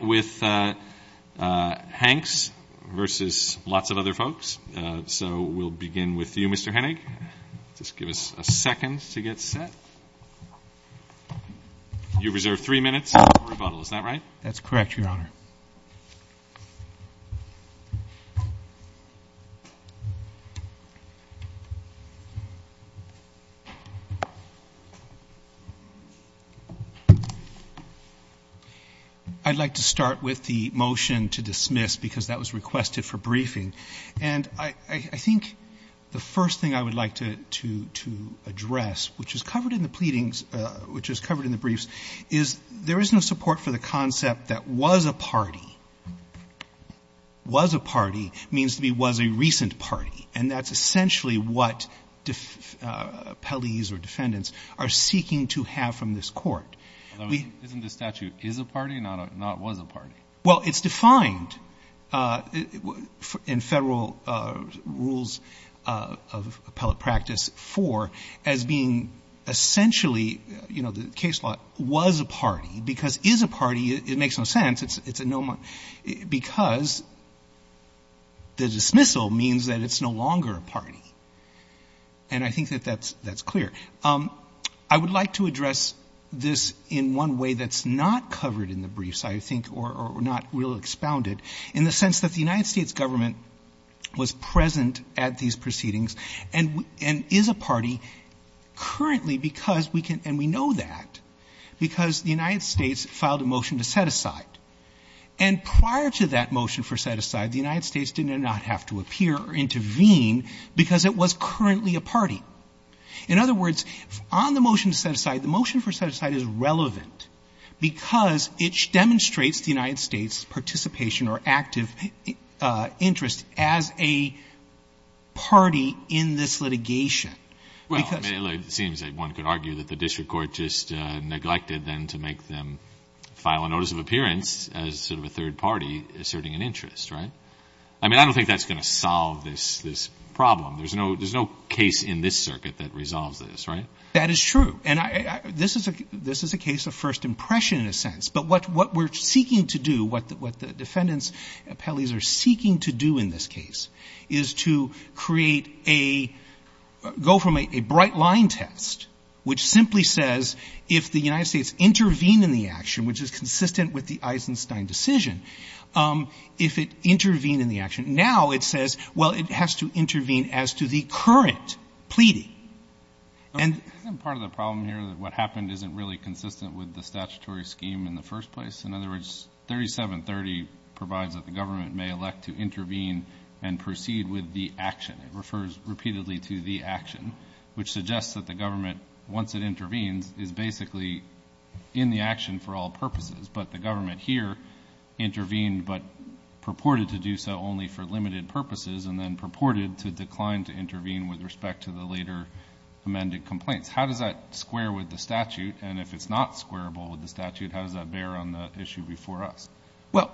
with Hanks versus lots of other folks. So we'll begin with you, Mr. Hennig. Just give us a second to get set. You reserve three minutes for rebuttal, is that right? That's correct, Your Honor. I'd like to start with the motion to dismiss, because that was requested for briefing. And I think the first thing I would like to address, which is covered in the pleadings, which is covered in the briefs, is there is no support for the concept that was a part of the party. Was a party means to me was a recent party. And that's essentially what appellees or defendants are seeking to have from this court. Isn't the statute is a party, not was a party? Well, it's defined in federal rules of appellate practice for as being essentially, you know, the case law was a party. Because is a party, it makes no sense. It's a no, because the dismissal means that it's no longer a party. And I think that that's clear. I would like to address this in one way that's not covered in the briefs, I think, or not real expounded, in the sense that the United States government was present at these proceedings and is a party currently because we can, and we know that, because the United States filed a motion to set aside. And prior to that motion for set aside, the United States did not have to appear or intervene because it was currently a party. In other words, on the motion to set aside, the motion for set aside is relevant because it demonstrates the United States participation or active interest as a party in this litigation. Well, it seems that one could argue that the district court just neglected then to make them file a notice of appearance as sort of a third party asserting an interest, right? I mean, I don't think that's going to solve this problem. There's no case in this circuit that resolves this, right? That is true. And this is a case of first impression in a sense. But what we're seeking to do, what the defendant's appellees are seeking to do in this case is to create a, go from a bright line test, which simply says if the United States intervene in the action, which is consistent with the Eisenstein decision, if it intervened in the action, now it says, well, it has to intervene as to the current pleading. Isn't part of the problem here that what happened isn't really consistent with the statutory scheme in the first place? In other words, 3730 provides that the government may elect to intervene and proceed with the action. It refers repeatedly to the action, which suggests that the government, once it intervenes, is basically in the action for all purposes. But the government here intervened but purported to do so only for limited purposes and then purported to decline to intervene with respect to the later amended complaints. How does that square with the statute? And if it's not squareable with the statute, how does that bear on the issue before us? Well,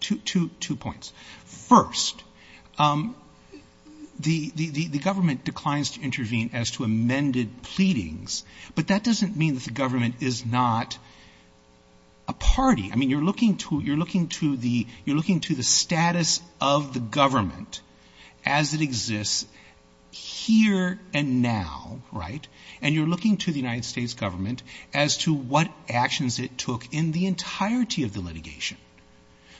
two points. First, the government declines to intervene as to amended pleadings, but that doesn't mean that the government is not a party. I mean, you're looking to the status of the government as it exists here and now, right? And you're looking to the United States government as to what actions it took in the entirety of the litigation.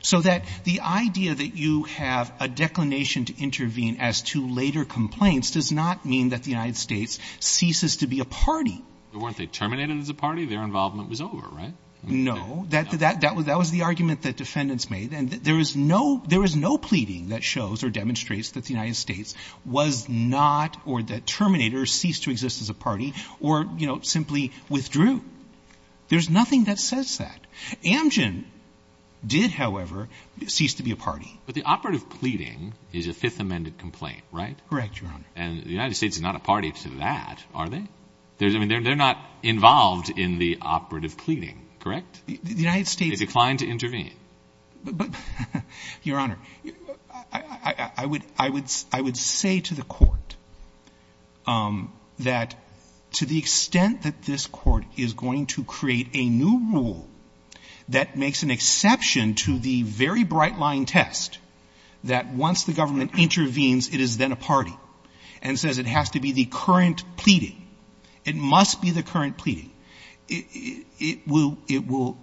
So that the idea that you have a declination to intervene as to later complaints does not mean that the United States ceases to be a party. But the operative pleading is a Fifth Amended complaint, right? Correct, Your Honor. And the United States is not a party to that, are they? I mean, they're not a party to that, are they? They're not a party to that. They're not involved in the operative pleading, correct? The United States is. They decline to intervene. Your Honor, I would say to the court that to the extent that this court is going to create a new rule that makes an exception to the very bright line test that once the government intervenes, it is then a party and says it has to be the current pleading. It must be the current pleading.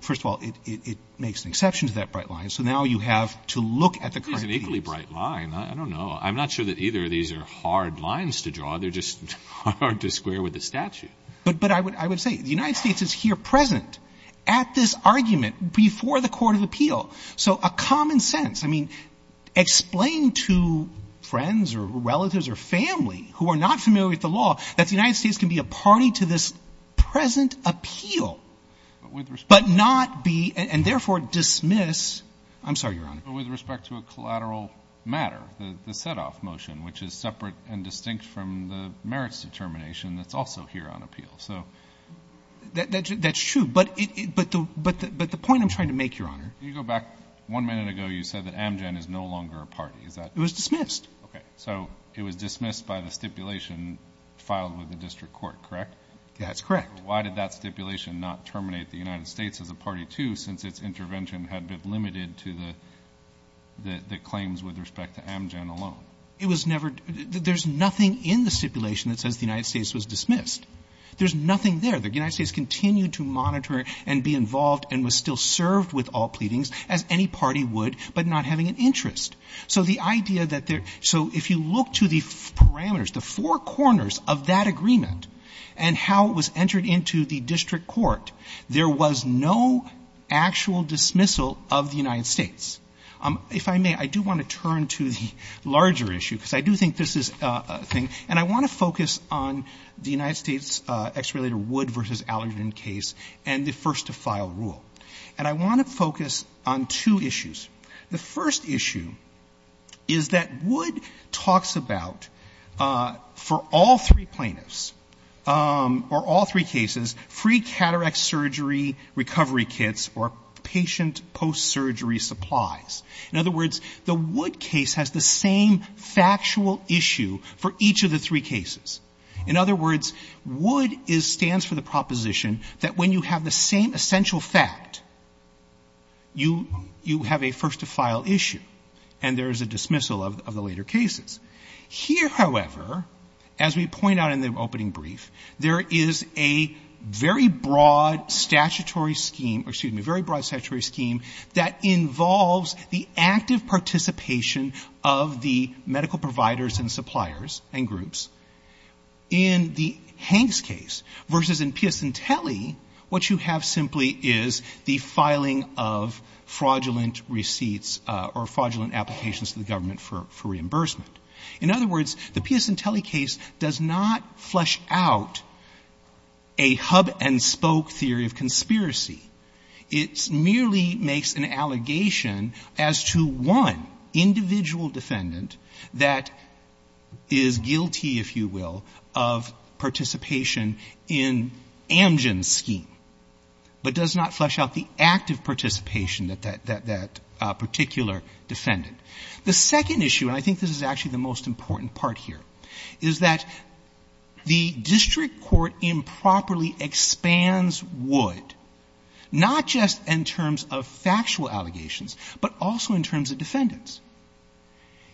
First of all, it makes an exception to that bright line. So now you have to look at the current pleading. It is an equally bright line. I don't know. I'm not sure that either of these are hard lines to draw. They're just hard to square with the statute. But I would say the United States is here present at this argument before the court of appeal. So a common sense. I mean, explain to friends or relatives or family who are not familiar with the law that the United States can be a party to this present appeal but not be and therefore dismiss. I'm sorry, Your Honor. With respect to a collateral matter, the setoff motion, which is separate and distinct from the merits determination that's also here on appeal. That's true. But the point I'm trying to make, Your Honor. You go back one minute ago, you said that Amgen is no longer a party. Is that? It was dismissed. Okay. So it was dismissed by the stipulation filed with the district court, correct? That's correct. But why did that stipulation not terminate the United States as a party, too, since its intervention had been limited to the claims with respect to Amgen alone? It was never — there's nothing in the stipulation that says the United States was dismissed. There's nothing there. The United States continued to monitor and be involved and was still served with all pleadings as any party would but not having an interest. So the idea that there — so if you look to the parameters, the four corners of that agreement and how it was entered into the district court, there was no actual dismissal of the United States. If I may, I do want to turn to the larger issue, because I do think this is a thing. And I want to focus on the United States ex-relator Wood v. Allergan case and the first-to-file rule. And I want to focus on two issues. The first issue is that Wood talks about, for all three plaintiffs or all three cases, free cataract surgery recovery kits or patient post-surgery supplies. In other words, the Wood case has the same factual issue for each of the three cases. In other words, Wood stands for the proposition that when you have the same essential fact, you have a first-to-file issue and there is a dismissal of the later cases. Here, however, as we point out in the opening brief, there is a very broad statutory scheme — or, excuse me, a very broad statutory scheme that involves the active participation of the medical providers and suppliers and groups. In the Hanks case versus in Piacentelli, what you have simply is the filing of fraudulent receipts or fraudulent applications to the government for reimbursement. In other words, the Piacentelli case does not flesh out a hub-and-spoke theory of conspiracy. It merely makes an allegation as to one individual defendant that is guilty, if you will, of participation in Amgen's scheme, but does not flesh out the active participation that that particular defendant. The second issue, and I think this is actually the most important part here, is that the district court improperly expands Wood, not just in terms of factual allegations, but also in terms of defendants.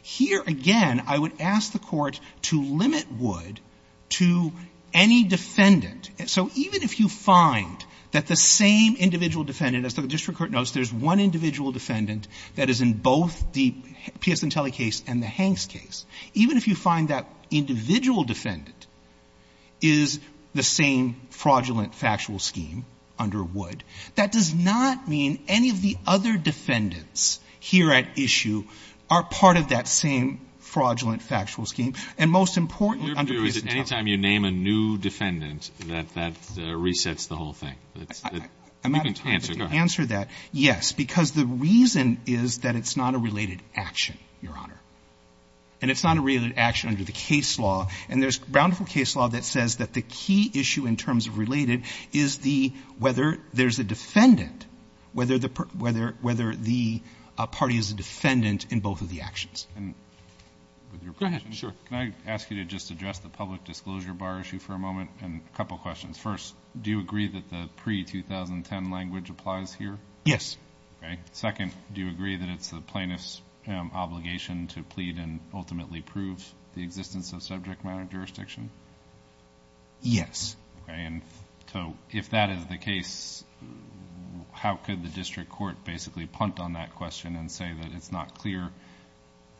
Here, again, I would ask the Court to limit Wood to any defendant. So even if you find that the same individual defendant, as the district court knows, there's one individual defendant that is in both the Piacentelli case and the Hanks case, even if you find that individual defendant is the same fraudulent factual scheme under Wood, that does not mean any of the other defendants here at issue are part of that same fraudulent factual scheme. And most importantly under Piacentelli. Alito, is it any time you name a new defendant that that resets the whole thing? You can answer. Go ahead. Answer that, yes, because the reason is that it's not a related action, Your Honor. And it's not a related action under the case law. And there's bountiful case law that says that the key issue in terms of related is the whether there's a defendant, whether the party is a defendant in both of the actions. Go ahead. Can I ask you to just address the public disclosure bar issue for a moment? And a couple questions. First, do you agree that the pre-2010 language applies here? Yes. Okay. Second, do you agree that it's the plaintiff's obligation to plead and ultimately prove the existence of subject matter jurisdiction? Yes. Okay. And so if that is the case, how could the district court basically punt on that question and say that it's not clear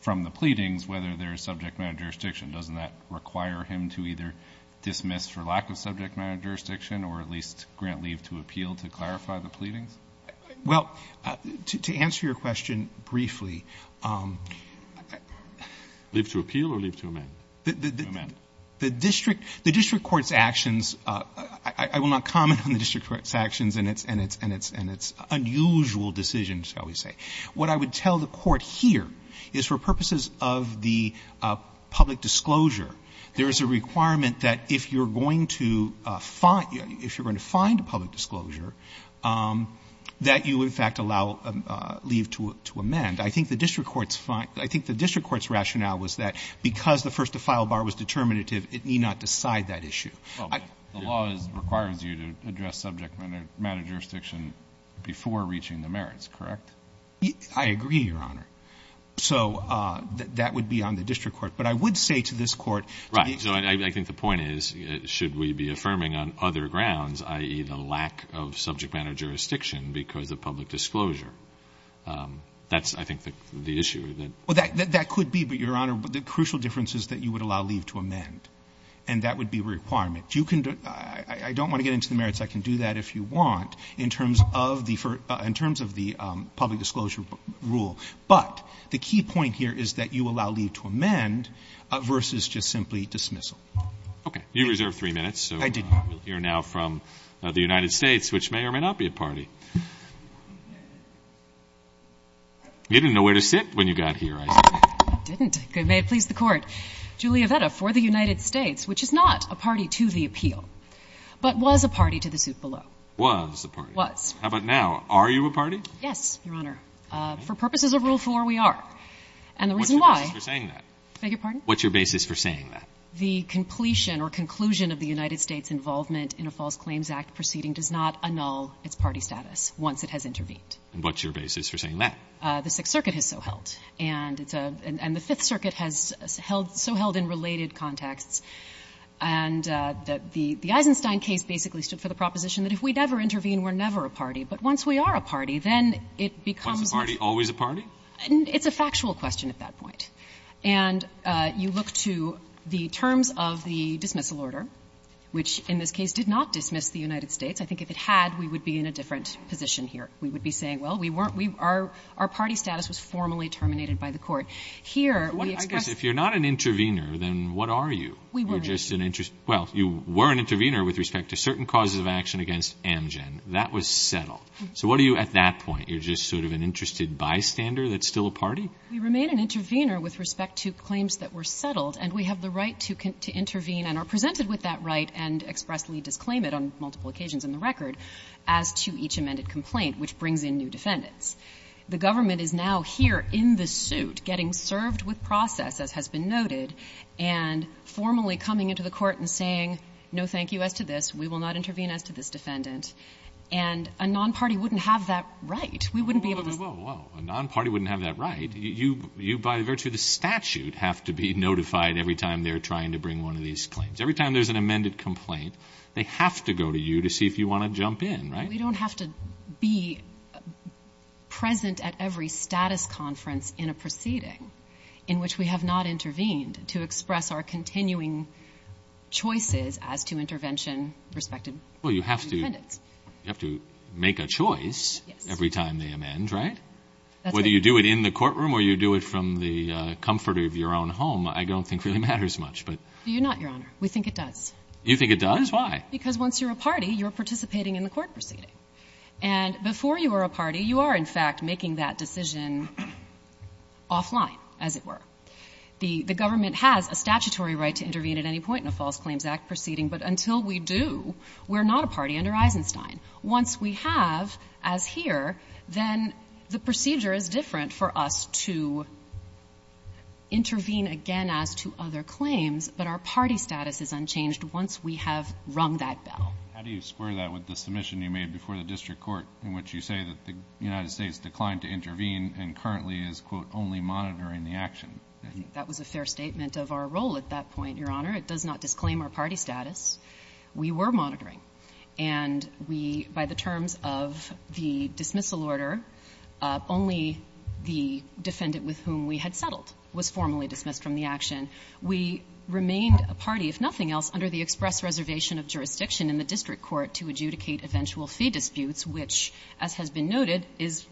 from the pleadings whether there's subject matter jurisdiction? Doesn't that require him to either dismiss for lack of subject matter jurisdiction or at least grant leave to appeal to clarify the pleadings? Well, to answer your question briefly ---- Leave to appeal or leave to amend? The district court's actions, I will not comment on the district court's actions and its unusual decisions, shall we say. What I would tell the court here is for purposes of the public disclosure, there is a requirement that if you're going to find a public disclosure, that you in fact allow leave to amend. I think the district court's rationale was that because the first-to-file bar was determinative, it need not decide that issue. The law requires you to address subject matter jurisdiction before reaching the merits, correct? I agree, Your Honor. So that would be on the district court. But I would say to this court ---- Right. So I think the point is should we be affirming on other grounds, i.e., the lack of subject matter jurisdiction because of public disclosure? That's, I think, the issue. Well, that could be. But, Your Honor, the crucial difference is that you would allow leave to amend. And that would be a requirement. I don't want to get into the merits. I can do that if you want in terms of the public disclosure rule. But the key point here is that you allow leave to amend versus just simply dismissal. Okay. You reserved three minutes. I did. So we'll hear now from the United States, which may or may not be a party. You didn't know where to sit when you got here, I see. I didn't. May it please the Court. Julia Vetta, for the United States, which is not a party to the appeal, but was a party to the suit below. Was a party. Was. How about now? Are you a party? Yes, Your Honor. For purposes of Rule 4, we are. And the reason why ---- What's your basis for saying that? Beg your pardon? What's your basis for saying that? The completion or conclusion of the United States' involvement in a False Claims Act proceeding does not annul its party status once it has intervened. And what's your basis for saying that? The Sixth Circuit has so held. And it's a ---- and the Fifth Circuit has held so held in related contexts. And the Eisenstein case basically stood for the proposition that if we never intervene, we're never a party. But once we are a party, then it becomes ---- Once a party, always a party? It's a factual question at that point. And you look to the terms of the dismissal order, which in this case did not dismiss the United States. I think if it had, we would be in a different position here. We would be saying, well, we weren't, we are, our party status was formally terminated by the court. Here, we express ---- I guess if you're not an intervener, then what are you? We weren't. You're just an ---- well, you were an intervener with respect to certain causes of action against Amgen. That was settled. So what are you at that point? You're just sort of an interested bystander that's still a party? We remain an intervener with respect to claims that were settled, and we have the right to intervene and are presented with that right and expressly disclaim it on multiple occasions in the record as to each amended complaint, which brings in new defendants. The government is now here in the suit, getting served with process, as has been noted, and formally coming into the court and saying, no, thank you as to this. We will not intervene as to this defendant. And a nonparty wouldn't have that right. We wouldn't be able to ---- Well, a nonparty wouldn't have that right. You, by virtue of the statute, have to be notified every time they're trying to bring one of these claims. Every time there's an amended complaint, they have to go to you to see if you want to jump in, right? Well, we don't have to be present at every status conference in a proceeding in which we have not intervened to express our continuing choices as to intervention with respect to defendants. Well, you have to make a choice every time they amend, right? That's right. Whether you do it in the courtroom or you do it from the comfort of your own home, I don't think really matters much, but ---- No, Your Honor. We think it does. You think it does? Why? Because once you're a party, you're participating in the court proceeding. And before you are a party, you are, in fact, making that decision offline, as it were. The government has a statutory right to intervene at any point in a False Claims Act proceeding, but until we do, we're not a party under Eisenstein. Once we have, as here, then the procedure is different for us to intervene again as to other claims, but our party status is unchanged once we have rung that bell. How do you square that with the submission you made before the district court in which you say that the United States declined to intervene and currently is, quote, only monitoring the action? I think that was a fair statement of our role at that point, Your Honor. It does not disclaim our party status. We were monitoring. And we, by the terms of the dismissal order, only the defendant with whom we had settled was formally dismissed from the action. We remained a party, if nothing else, under the express reservation of jurisdiction in the district court to adjudicate eventual fee disputes, which, as has been noted, is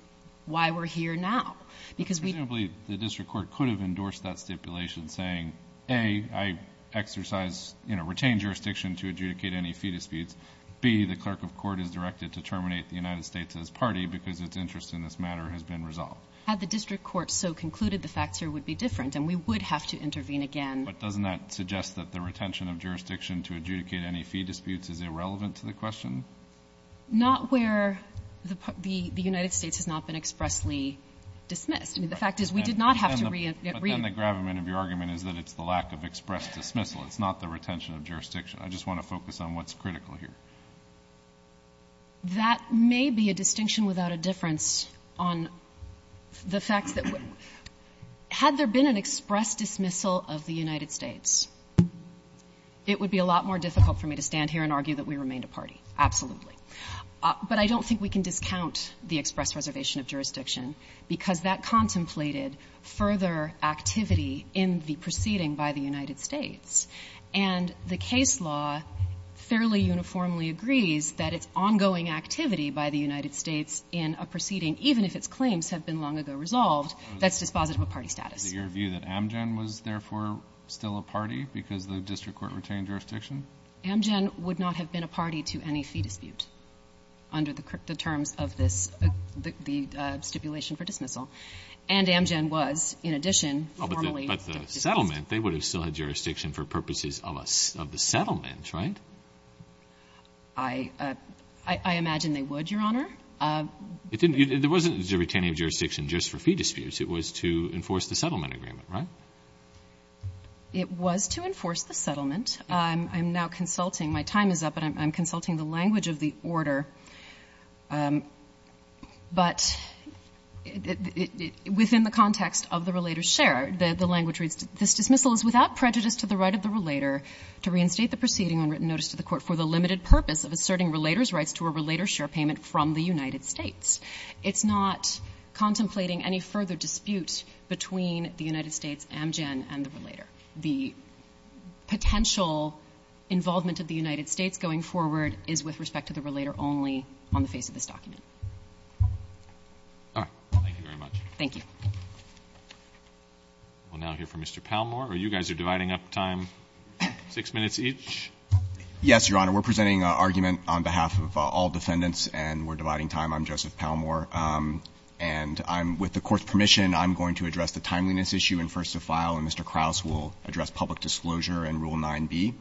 why we're here now. Because we don't believe the district court could have endorsed that stipulation saying, A, I exercise, you know, retain jurisdiction to adjudicate any fee disputes. B, the clerk of court is directed to terminate the United States as party because its interest in this matter has been resolved. Had the district court so concluded, the facts here would be different, and we would have to intervene again. But doesn't that suggest that the retention of jurisdiction to adjudicate any fee disputes is irrelevant to the question? Not where the United States has not been expressly dismissed. I mean, the fact is, we did not have to reappear. But then the gravamen of your argument is that it's the lack of express dismissal. It's not the retention of jurisdiction. I just want to focus on what's critical here. That may be a distinction without a difference on the facts that we're – had there been an express dismissal of the United States, it would be a lot more difficult for me to stand here and argue that we remained a party. Absolutely. But I don't think we can discount the express reservation of jurisdiction because that contemplated further activity in the proceeding by the United States. And the case law fairly uniformly agrees that it's ongoing activity by the United States in a proceeding, even if its claims have been long ago resolved, that's dispositive of party status. Is it your view that Amgen was, therefore, still a party because the district court retained jurisdiction? Amgen would not have been a party to any fee dispute under the terms of this – the stipulation for dismissal. And Amgen was, in addition, formally dismissed. But the settlement, they would have still had jurisdiction for purposes of the settlement, right? I imagine they would, Your Honor. There wasn't a retaining of jurisdiction just for fee disputes. It was to enforce the settlement agreement, right? It was to enforce the settlement. I'm now consulting – my time is up, and I'm consulting the language of the order. But within the context of the relator's share, the language reads, this dismissal is without prejudice to the right of the relator to reinstate the proceeding on written notice to the court for the limited purpose of asserting relator's rights to a relator's share payment from the United States. It's not contemplating any further dispute between the United States, Amgen, and the relator. The potential involvement of the United States going forward is with respect to the relator, and it's only on the face of this document. All right. Thank you very much. Thank you. We'll now hear from Mr. Palmore. You guys are dividing up time, 6 minutes each. Yes, Your Honor. We're presenting an argument on behalf of all defendants, and we're dividing time. I'm Joseph Palmore. And I'm – with the Court's permission, I'm going to address the timeliness issue in first to file, and Mr. Krauss will address public disclosure and Rule 9b.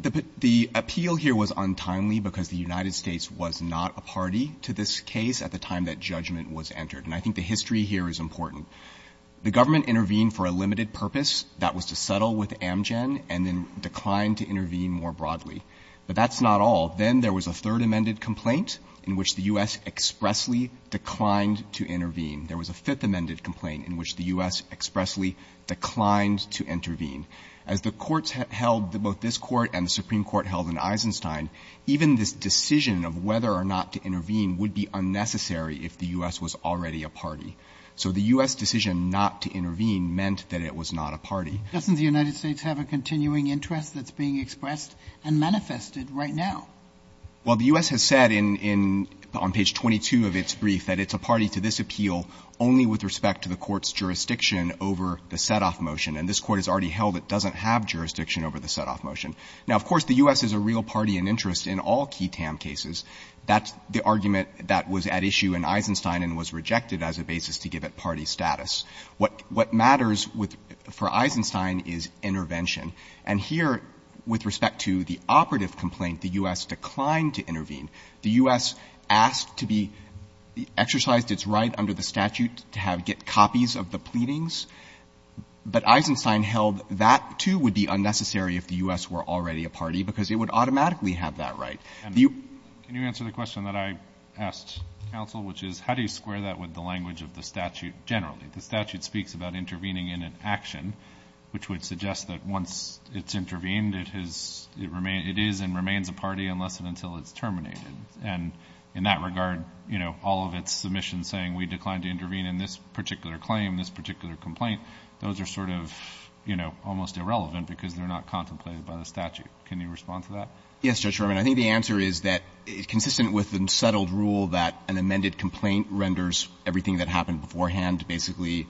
The appeal here was untimely because the United States was not a party to this case at the time that judgment was entered. And I think the history here is important. The government intervened for a limited purpose. That was to settle with Amgen and then declined to intervene more broadly. But that's not all. Then there was a third amended complaint in which the U.S. expressly declined to intervene. There was a fifth amended complaint in which the U.S. expressly declined to intervene. As the courts held, both this Court and the Supreme Court held in Eisenstein, even this decision of whether or not to intervene would be unnecessary if the U.S. was already a party. So the U.S. decision not to intervene meant that it was not a party. Doesn't the United States have a continuing interest that's being expressed and manifested right now? Well, the U.S. has said in – on page 22 of its brief that it's a party to this appeal only with respect to the Court's jurisdiction over the set-off motion. And this Court has already held it doesn't have jurisdiction over the set-off motion. Now, of course, the U.S. is a real party and interest in all key TAM cases. That's the argument that was at issue in Eisenstein and was rejected as a basis to give it party status. What – what matters with – for Eisenstein is intervention. And here, with respect to the operative complaint, the U.S. declined to intervene. The U.S. asked to be exercised its right under the statute to have – get copies of the pleadings. But Eisenstein held that, too, would be unnecessary if the U.S. were already a party because it would automatically have that right. The – Can you answer the question that I asked counsel, which is how do you square that with the language of the statute generally? The statute speaks about intervening in an action, which would suggest that once it's intervened, it has – it remain – it is and remains a party unless and until it's terminated. And this particular claim, this particular complaint, those are sort of, you know, almost irrelevant because they're not contemplated by the statute. Can you respond to that? Yes, Judge Sherman. I think the answer is that, consistent with the settled rule that an amended complaint renders everything that happened beforehand basically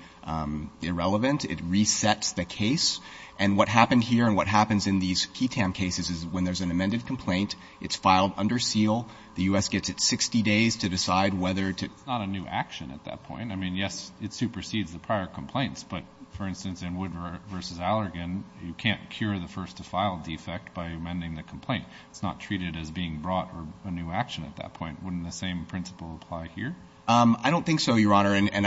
irrelevant, it resets the case. And what happened here and what happens in these key TAM cases is when there's an amended complaint, it's filed under seal. The U.S. gets it 60 days to decide whether to – I mean, yes, it supersedes the prior complaints. But, for instance, in Wood versus Allergan, you can't cure the first-to-file defect by amending the complaint. It's not treated as being brought or a new action at that point. Wouldn't the same principle apply here? I don't think so, Your Honor. And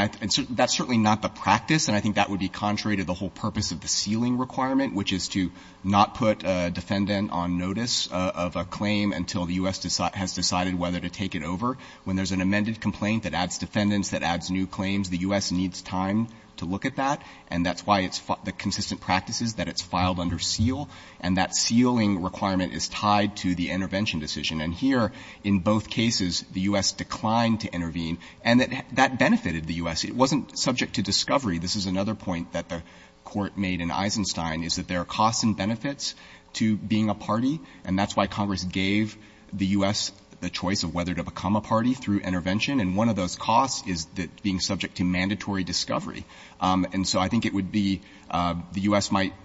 that's certainly not the practice. And I think that would be contrary to the whole purpose of the sealing requirement, which is to not put a defendant on notice of a claim until the U.S. has decided whether to take it over. When there's an amended complaint that adds defendants, that adds new claims, the U.S. needs time to look at that. And that's why it's the consistent practices that it's filed under seal. And that sealing requirement is tied to the intervention decision. And here, in both cases, the U.S. declined to intervene. And that benefited the U.S. It wasn't subject to discovery. This is another point that the Court made in Eisenstein is that there are costs and benefits to being a party, and that's why Congress gave the U.S. the choice of whether to become a party through intervention. And one of those costs is being subject to mandatory discovery. And so I think it would be the U.S. might –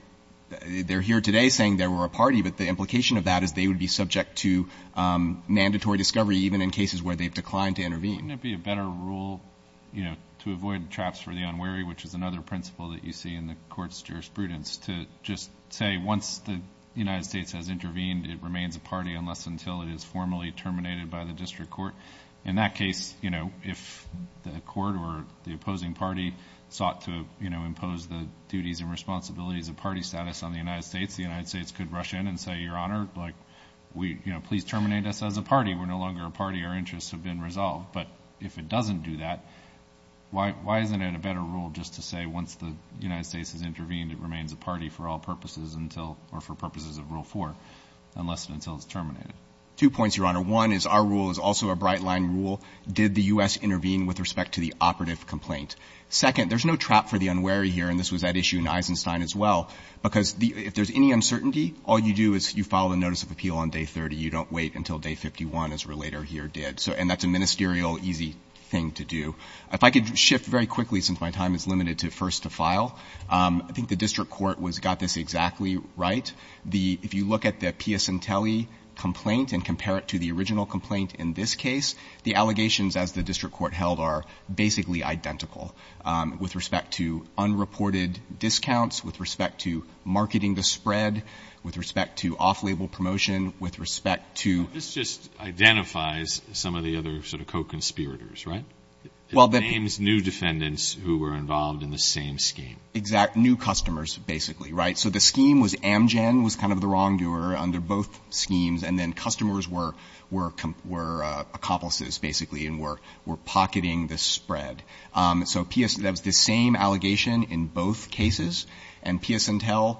they're here today saying they were a party, but the implication of that is they would be subject to mandatory discovery, even in cases where they've declined to intervene. Wouldn't it be a better rule, you know, to avoid traps for the unwary, which is another principle that you see in the Court's jurisprudence, to just say once the United States has intervened, it remains a party unless until it is formally terminated by the district court? In that case, you know, if the court or the opposing party sought to, you know, impose the duties and responsibilities of party status on the United States, the United States could rush in and say, Your Honor, please terminate us as a party. We're no longer a party. Our interests have been resolved. But if it doesn't do that, why isn't it a better rule just to say once the United States has intervened, it remains a party for all purposes until – or for purposes of Rule 4 unless and until it's terminated? Two points, Your Honor. One is our rule is also a bright-line rule. Did the U.S. intervene with respect to the operative complaint? Second, there's no trap for the unwary here, and this was at issue in Eisenstein as well, because if there's any uncertainty, all you do is you file a notice of appeal on day 30. You don't wait until day 51, as Relator here did. And that's a ministerial, easy thing to do. If I could shift very quickly, since my time is limited to first to file, I think the district court was – got this exactly right. The – if you look at the Piacentelli complaint and compare it to the original complaint in this case, the allegations, as the district court held, are basically identical with respect to unreported discounts, with respect to marketing the spread, with respect to off-label promotion, with respect to – This just identifies some of the other sort of co-conspirators, right? It names new defendants who were involved in the same scheme. Exact – new customers, basically, right? So the scheme was Amgen was kind of the wrongdoer under both schemes, and then customers were accomplices, basically, and were pocketing the spread. So that was the same allegation in both cases, and Piacentelli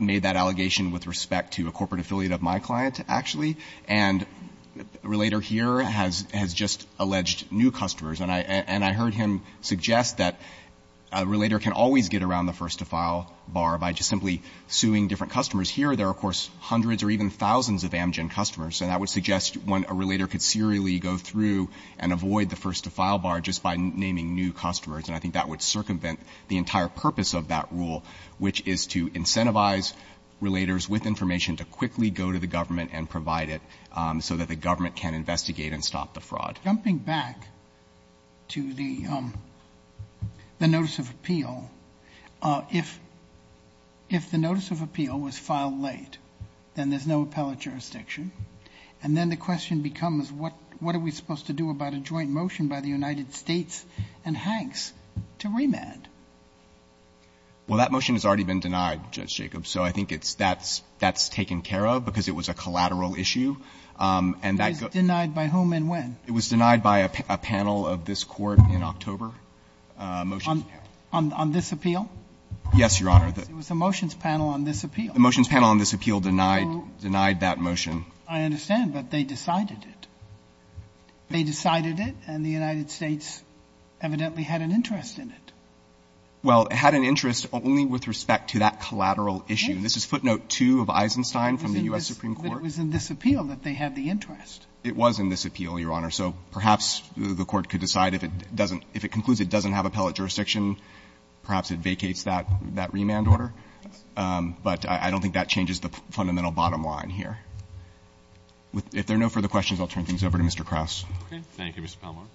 made that allegation with respect to a corporate affiliate of my client, actually. And a relator here has just alleged new customers. And I heard him suggest that a relator can always get around the first-to-file bar by just simply suing different customers. Here, there are, of course, hundreds or even thousands of Amgen customers, and that would suggest when a relator could serially go through and avoid the first-to-file bar just by naming new customers, and I think that would circumvent the entire purpose of that rule, which is to incentivize relators with information to quickly go to the government and provide it so that the government can investigate and stop the fraud. Jumping back to the notice of appeal, if the notice of appeal was filed late, then there's no appellate jurisdiction. And then the question becomes what are we supposed to do about a joint motion by the United States and Hanks to remand? Well, that motion has already been denied, Judge Jacobs. So I think it's that's taken care of because it was a collateral issue. And that goes by whom and when? It was denied by a panel of this Court in October. On this appeal? Yes, Your Honor. It was a motions panel on this appeal. The motions panel on this appeal denied that motion. I understand, but they decided it. They decided it, and the United States evidently had an interest in it. Well, it had an interest only with respect to that collateral issue. This is footnote 2 of Eisenstein from the U.S. Supreme Court. But it was in this appeal that they had the interest. It was in this appeal, Your Honor. So perhaps the Court could decide if it doesn't, if it concludes it doesn't have appellate jurisdiction, perhaps it vacates that remand order. But I don't think that changes the fundamental bottom line here. If there are no further questions, I'll turn things over to Mr. Krauss. Thank you, Mr. Palmore.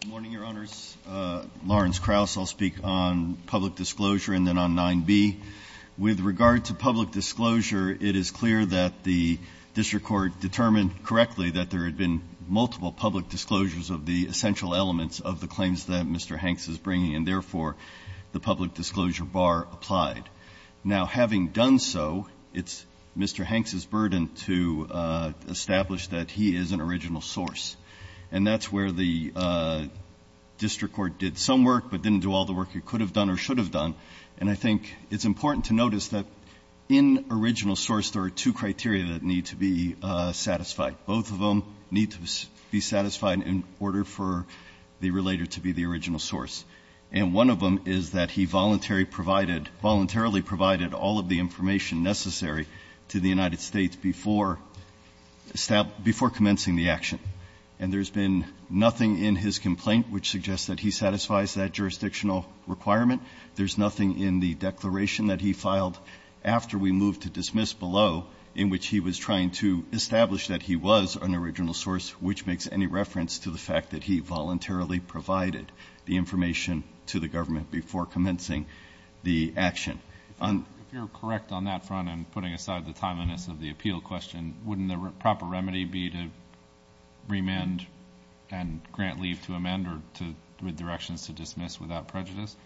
Good morning, Your Honors. Lawrence Krauss. I'll speak on public disclosure and then on 9b. With regard to public disclosure, it is clear that the district court determined correctly that there had been multiple public disclosures of the essential elements of the claims that Mr. Hanks is bringing, and therefore the public disclosure bar applied. Now, having done so, it's Mr. Hanks' burden to establish that he is an original source. And that's where the district court did some work but didn't do all the work it could have done or should have done. And I think it's important to notice that in original source, there are two criteria that need to be satisfied. Both of them need to be satisfied in order for the relator to be the original source. And one of them is that he voluntarily provided all of the information necessary to the United States before commencing the action. And there's been nothing in his complaint which suggests that he satisfies that jurisdictional requirement. There's nothing in the declaration that he filed after we moved to dismiss below in which he was trying to establish that he was an original source, which makes any reference to the fact that he voluntarily provided the information to the government before commencing the action. If you're correct on that front and putting aside the timeliness of the appeal question, wouldn't the proper remedy be to remand and grant leave to amend or to redirections to dismiss without prejudice?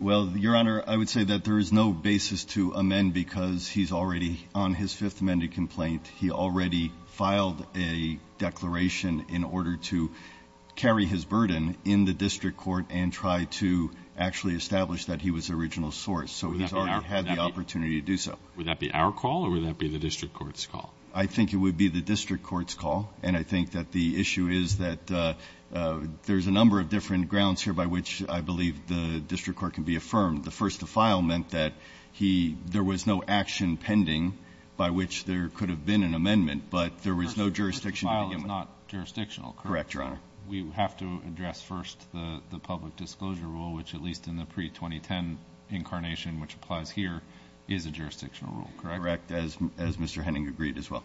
Well, Your Honor, I would say that there is no basis to amend because he's already on his Fifth Amendment complaint. He already filed a declaration in order to carry his burden in the district court and try to actually establish that he was the original source. So he's already had the opportunity to do so. Would that be our call or would that be the district court's call? I think it would be the district court's call. And I think that the issue is that there's a number of different grounds here by which I believe the district court can be affirmed. The first to file meant that he — there was no action pending by which there could have been an amendment, but there was no jurisdiction to begin with. The first to file is not jurisdictional, correct? Correct, Your Honor. We have to address first the public disclosure rule, which at least in the pre-2010 incarnation, which applies here, is a jurisdictional rule, correct? Correct, as Mr. Henning agreed as well.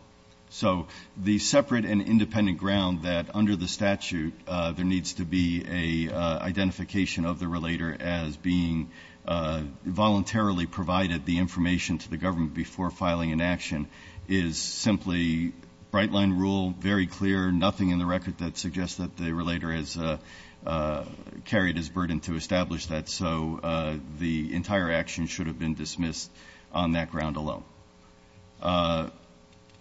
So the separate and independent ground that under the statute there needs to be an identification of the relator as being voluntarily provided the information to the public. There is simply bright-line rule, very clear, nothing in the record that suggests that the relator has carried his burden to establish that. So the entire action should have been dismissed on that ground alone.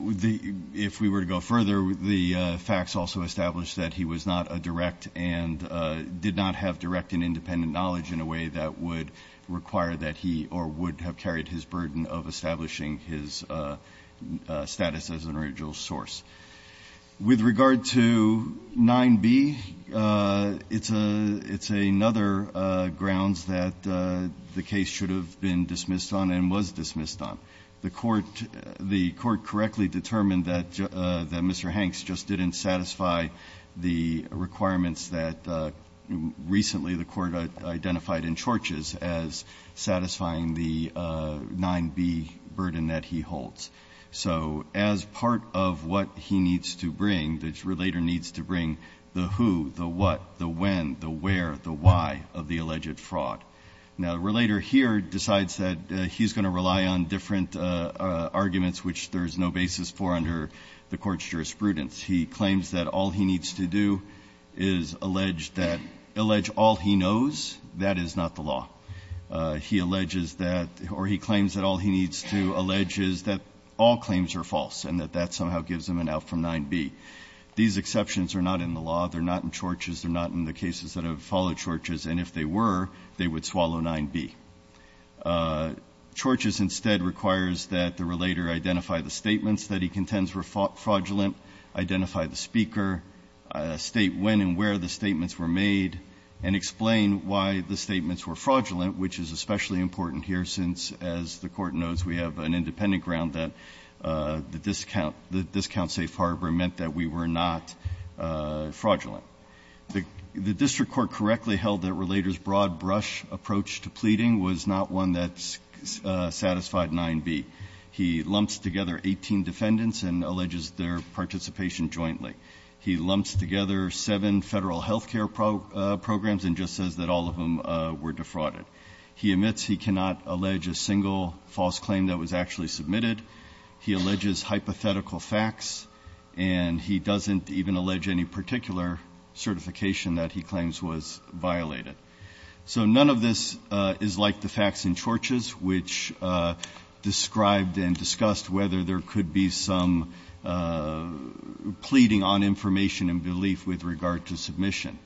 If we were to go further, the facts also establish that he was not a direct and did not have direct and independent knowledge in a way that would require that he or would have carried his burden of establishing his status as an original source. With regard to 9b, it's another grounds that the case should have been dismissed on and was dismissed on. The court correctly determined that Mr. Hanks just didn't satisfy the requirements that recently the court identified in Church's as satisfying the 9b burden that he holds. So as part of what he needs to bring, the relator needs to bring the who, the what, the when, the where, the why of the alleged fraud. Now, the relator here decides that he's going to rely on different arguments, which there's no basis for under the court's jurisprudence. He claims that all he needs to do is allege that, allege all he knows, that is not the law. He alleges that, or he claims that all he needs to allege is that all claims are false and that that somehow gives him an out from 9b. These exceptions are not in the law. They're not in Church's. They're not in the cases that have followed Church's. And if they were, they would swallow 9b. Church's instead requires that the relator identify the statements that he contends were fraudulent, identify the speaker, state when and where the statements were made, and explain why the statements were fraudulent, which is especially important here since, as the court knows, we have an independent ground that the discount safe harbor meant that we were not fraudulent. The district court correctly held that relator's broad brush approach to pleading was not one that satisfied 9b. He lumps together 18 defendants and alleges their participation jointly. He lumps together seven federal health care programs and just says that all of them were defrauded. He admits he cannot allege a single false claim that was actually submitted. He alleges hypothetical facts. And he doesn't even allege any particular certification that he claims was violated. So none of this is like the facts in Church's, which described and discussed whether there could be some pleading on information and belief with regard to submission.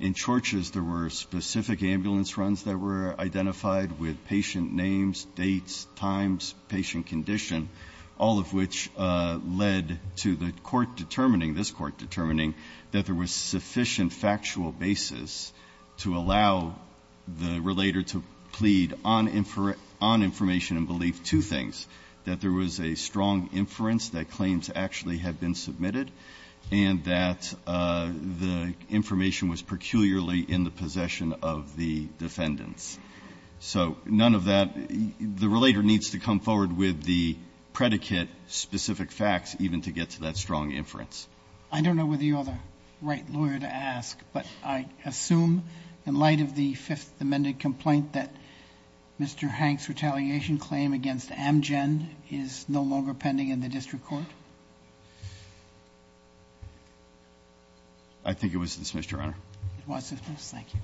In Church's, there were specific ambulance runs that were identified with patient names, dates, times, patient condition, all of which led to the court determining, this Court determining, that there was sufficient factual basis to allow the relator to plead on information and belief two things, that there was a strong inference that claims actually had been submitted and that the information was peculiarly in the possession of the defendants. So none of that. The relator needs to come forward with the predicate specific facts even to get to that strong inference. I don't know whether you're the right lawyer to ask, but I assume in light of the fifth amended complaint that Mr. Hank's retaliation claim against Amgen is no longer pending in the district court? I think it was dismissed, Your Honor. It was dismissed. Thank you.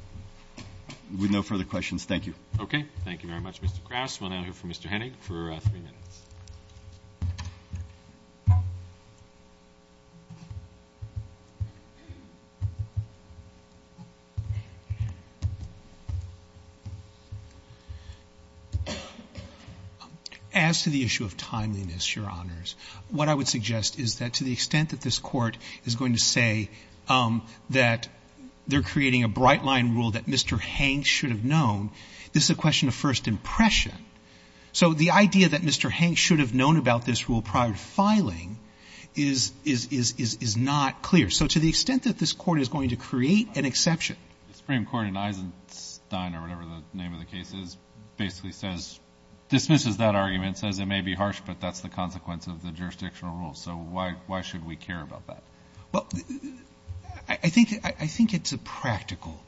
With no further questions, thank you. Okay. Thank you very much, Mr. Kras. We'll now hear from Mr. Henig for three minutes. As to the issue of timeliness, Your Honors, what I would suggest is that to the extent that this Court is going to say that they're creating a bright-line rule that Mr. Hank should have known, this is a question of first impression. So the idea that Mr. Hank should have known is that he should have known that the rule prior to filing is not clear. So to the extent that this Court is going to create an exception. The Supreme Court in Eisenstein or whatever the name of the case is basically dismisses that argument, says it may be harsh, but that's the consequence of the jurisdictional rule. So why should we care about that? Well, I think it's a practical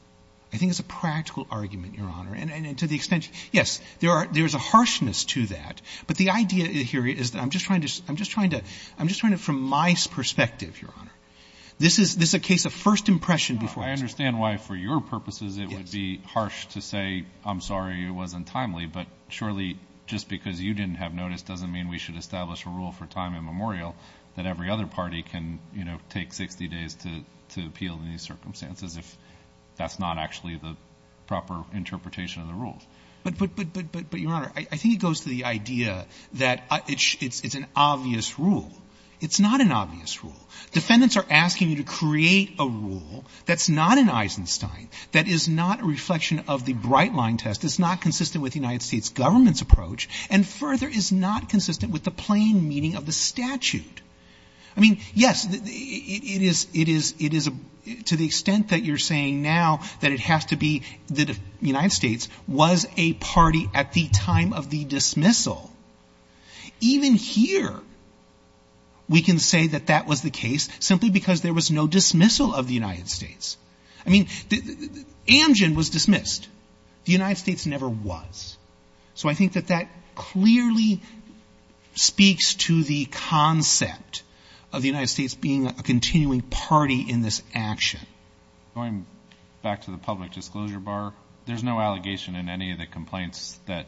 argument, Your Honor. And to the extent, yes, there is a harshness to that. But the idea here is that I'm just trying to, from my perspective, Your Honor, this is a case of first impression. I understand why for your purposes it would be harsh to say, I'm sorry, it wasn't timely, but surely just because you didn't have notice doesn't mean we should establish a rule for time immemorial that every other party can take 60 days to appeal in these circumstances if that's not actually the proper interpretation of the rules. But, Your Honor, I think it goes to the idea that it's an obvious rule. It's not an obvious rule. Defendants are asking you to create a rule that's not in Eisenstein, that is not a reflection of the bright-line test, is not consistent with the United States government's approach, and further is not consistent with the plain meaning of the statute. I mean, yes, it is to the extent that you're saying now that it has to be the United States was a party at the time of the dismissal. Even here, we can say that that was the case simply because there was no dismissal of the United States. I mean, Amgen was dismissed. The United States never was. So I think that that clearly speaks to the concept of the United States being a continuing party in this action. Going back to the public disclosure bar, there's no allegation in any of the complaints that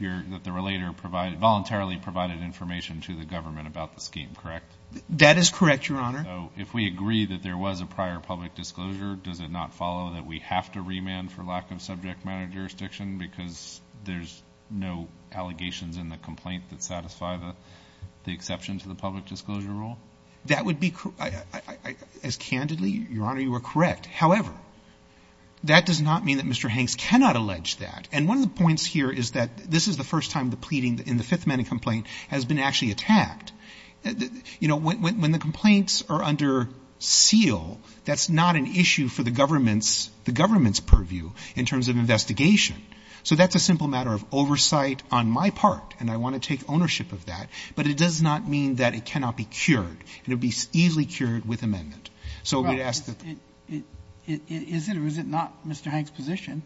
the relator voluntarily provided information to the government about the scheme, correct? That is correct, Your Honor. So if we agree that there was a prior public disclosure, does it not follow that we have to remand for lack of subject matter jurisdiction because there's no allegations in the complaint that satisfy the exception to the public disclosure rule? That would be, as candidly, Your Honor, you are correct. However, that does not mean that Mr. Hanks cannot allege that. And one of the points here is that this is the first time the pleading in the Fifth Amendment complaint has been actually attacked. You know, when the complaints are under seal, that's not an issue for the government's purview in terms of investigation. So that's a simple matter of oversight on my part, and I want to take ownership of that. But it does not mean that it cannot be cured. It would be easily cured with amendment. So we'd ask that the ---- Right. Is it or is it not Mr. Hanks' position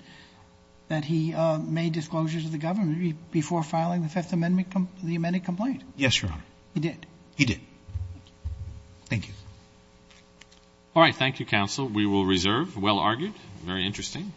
that he made disclosure to the government before filing the Fifth Amendment complaint, the amended complaint? Yes, Your Honor. He did? He did. Thank you. All right. Thank you, counsel. We will reserve. Well argued. Very interesting.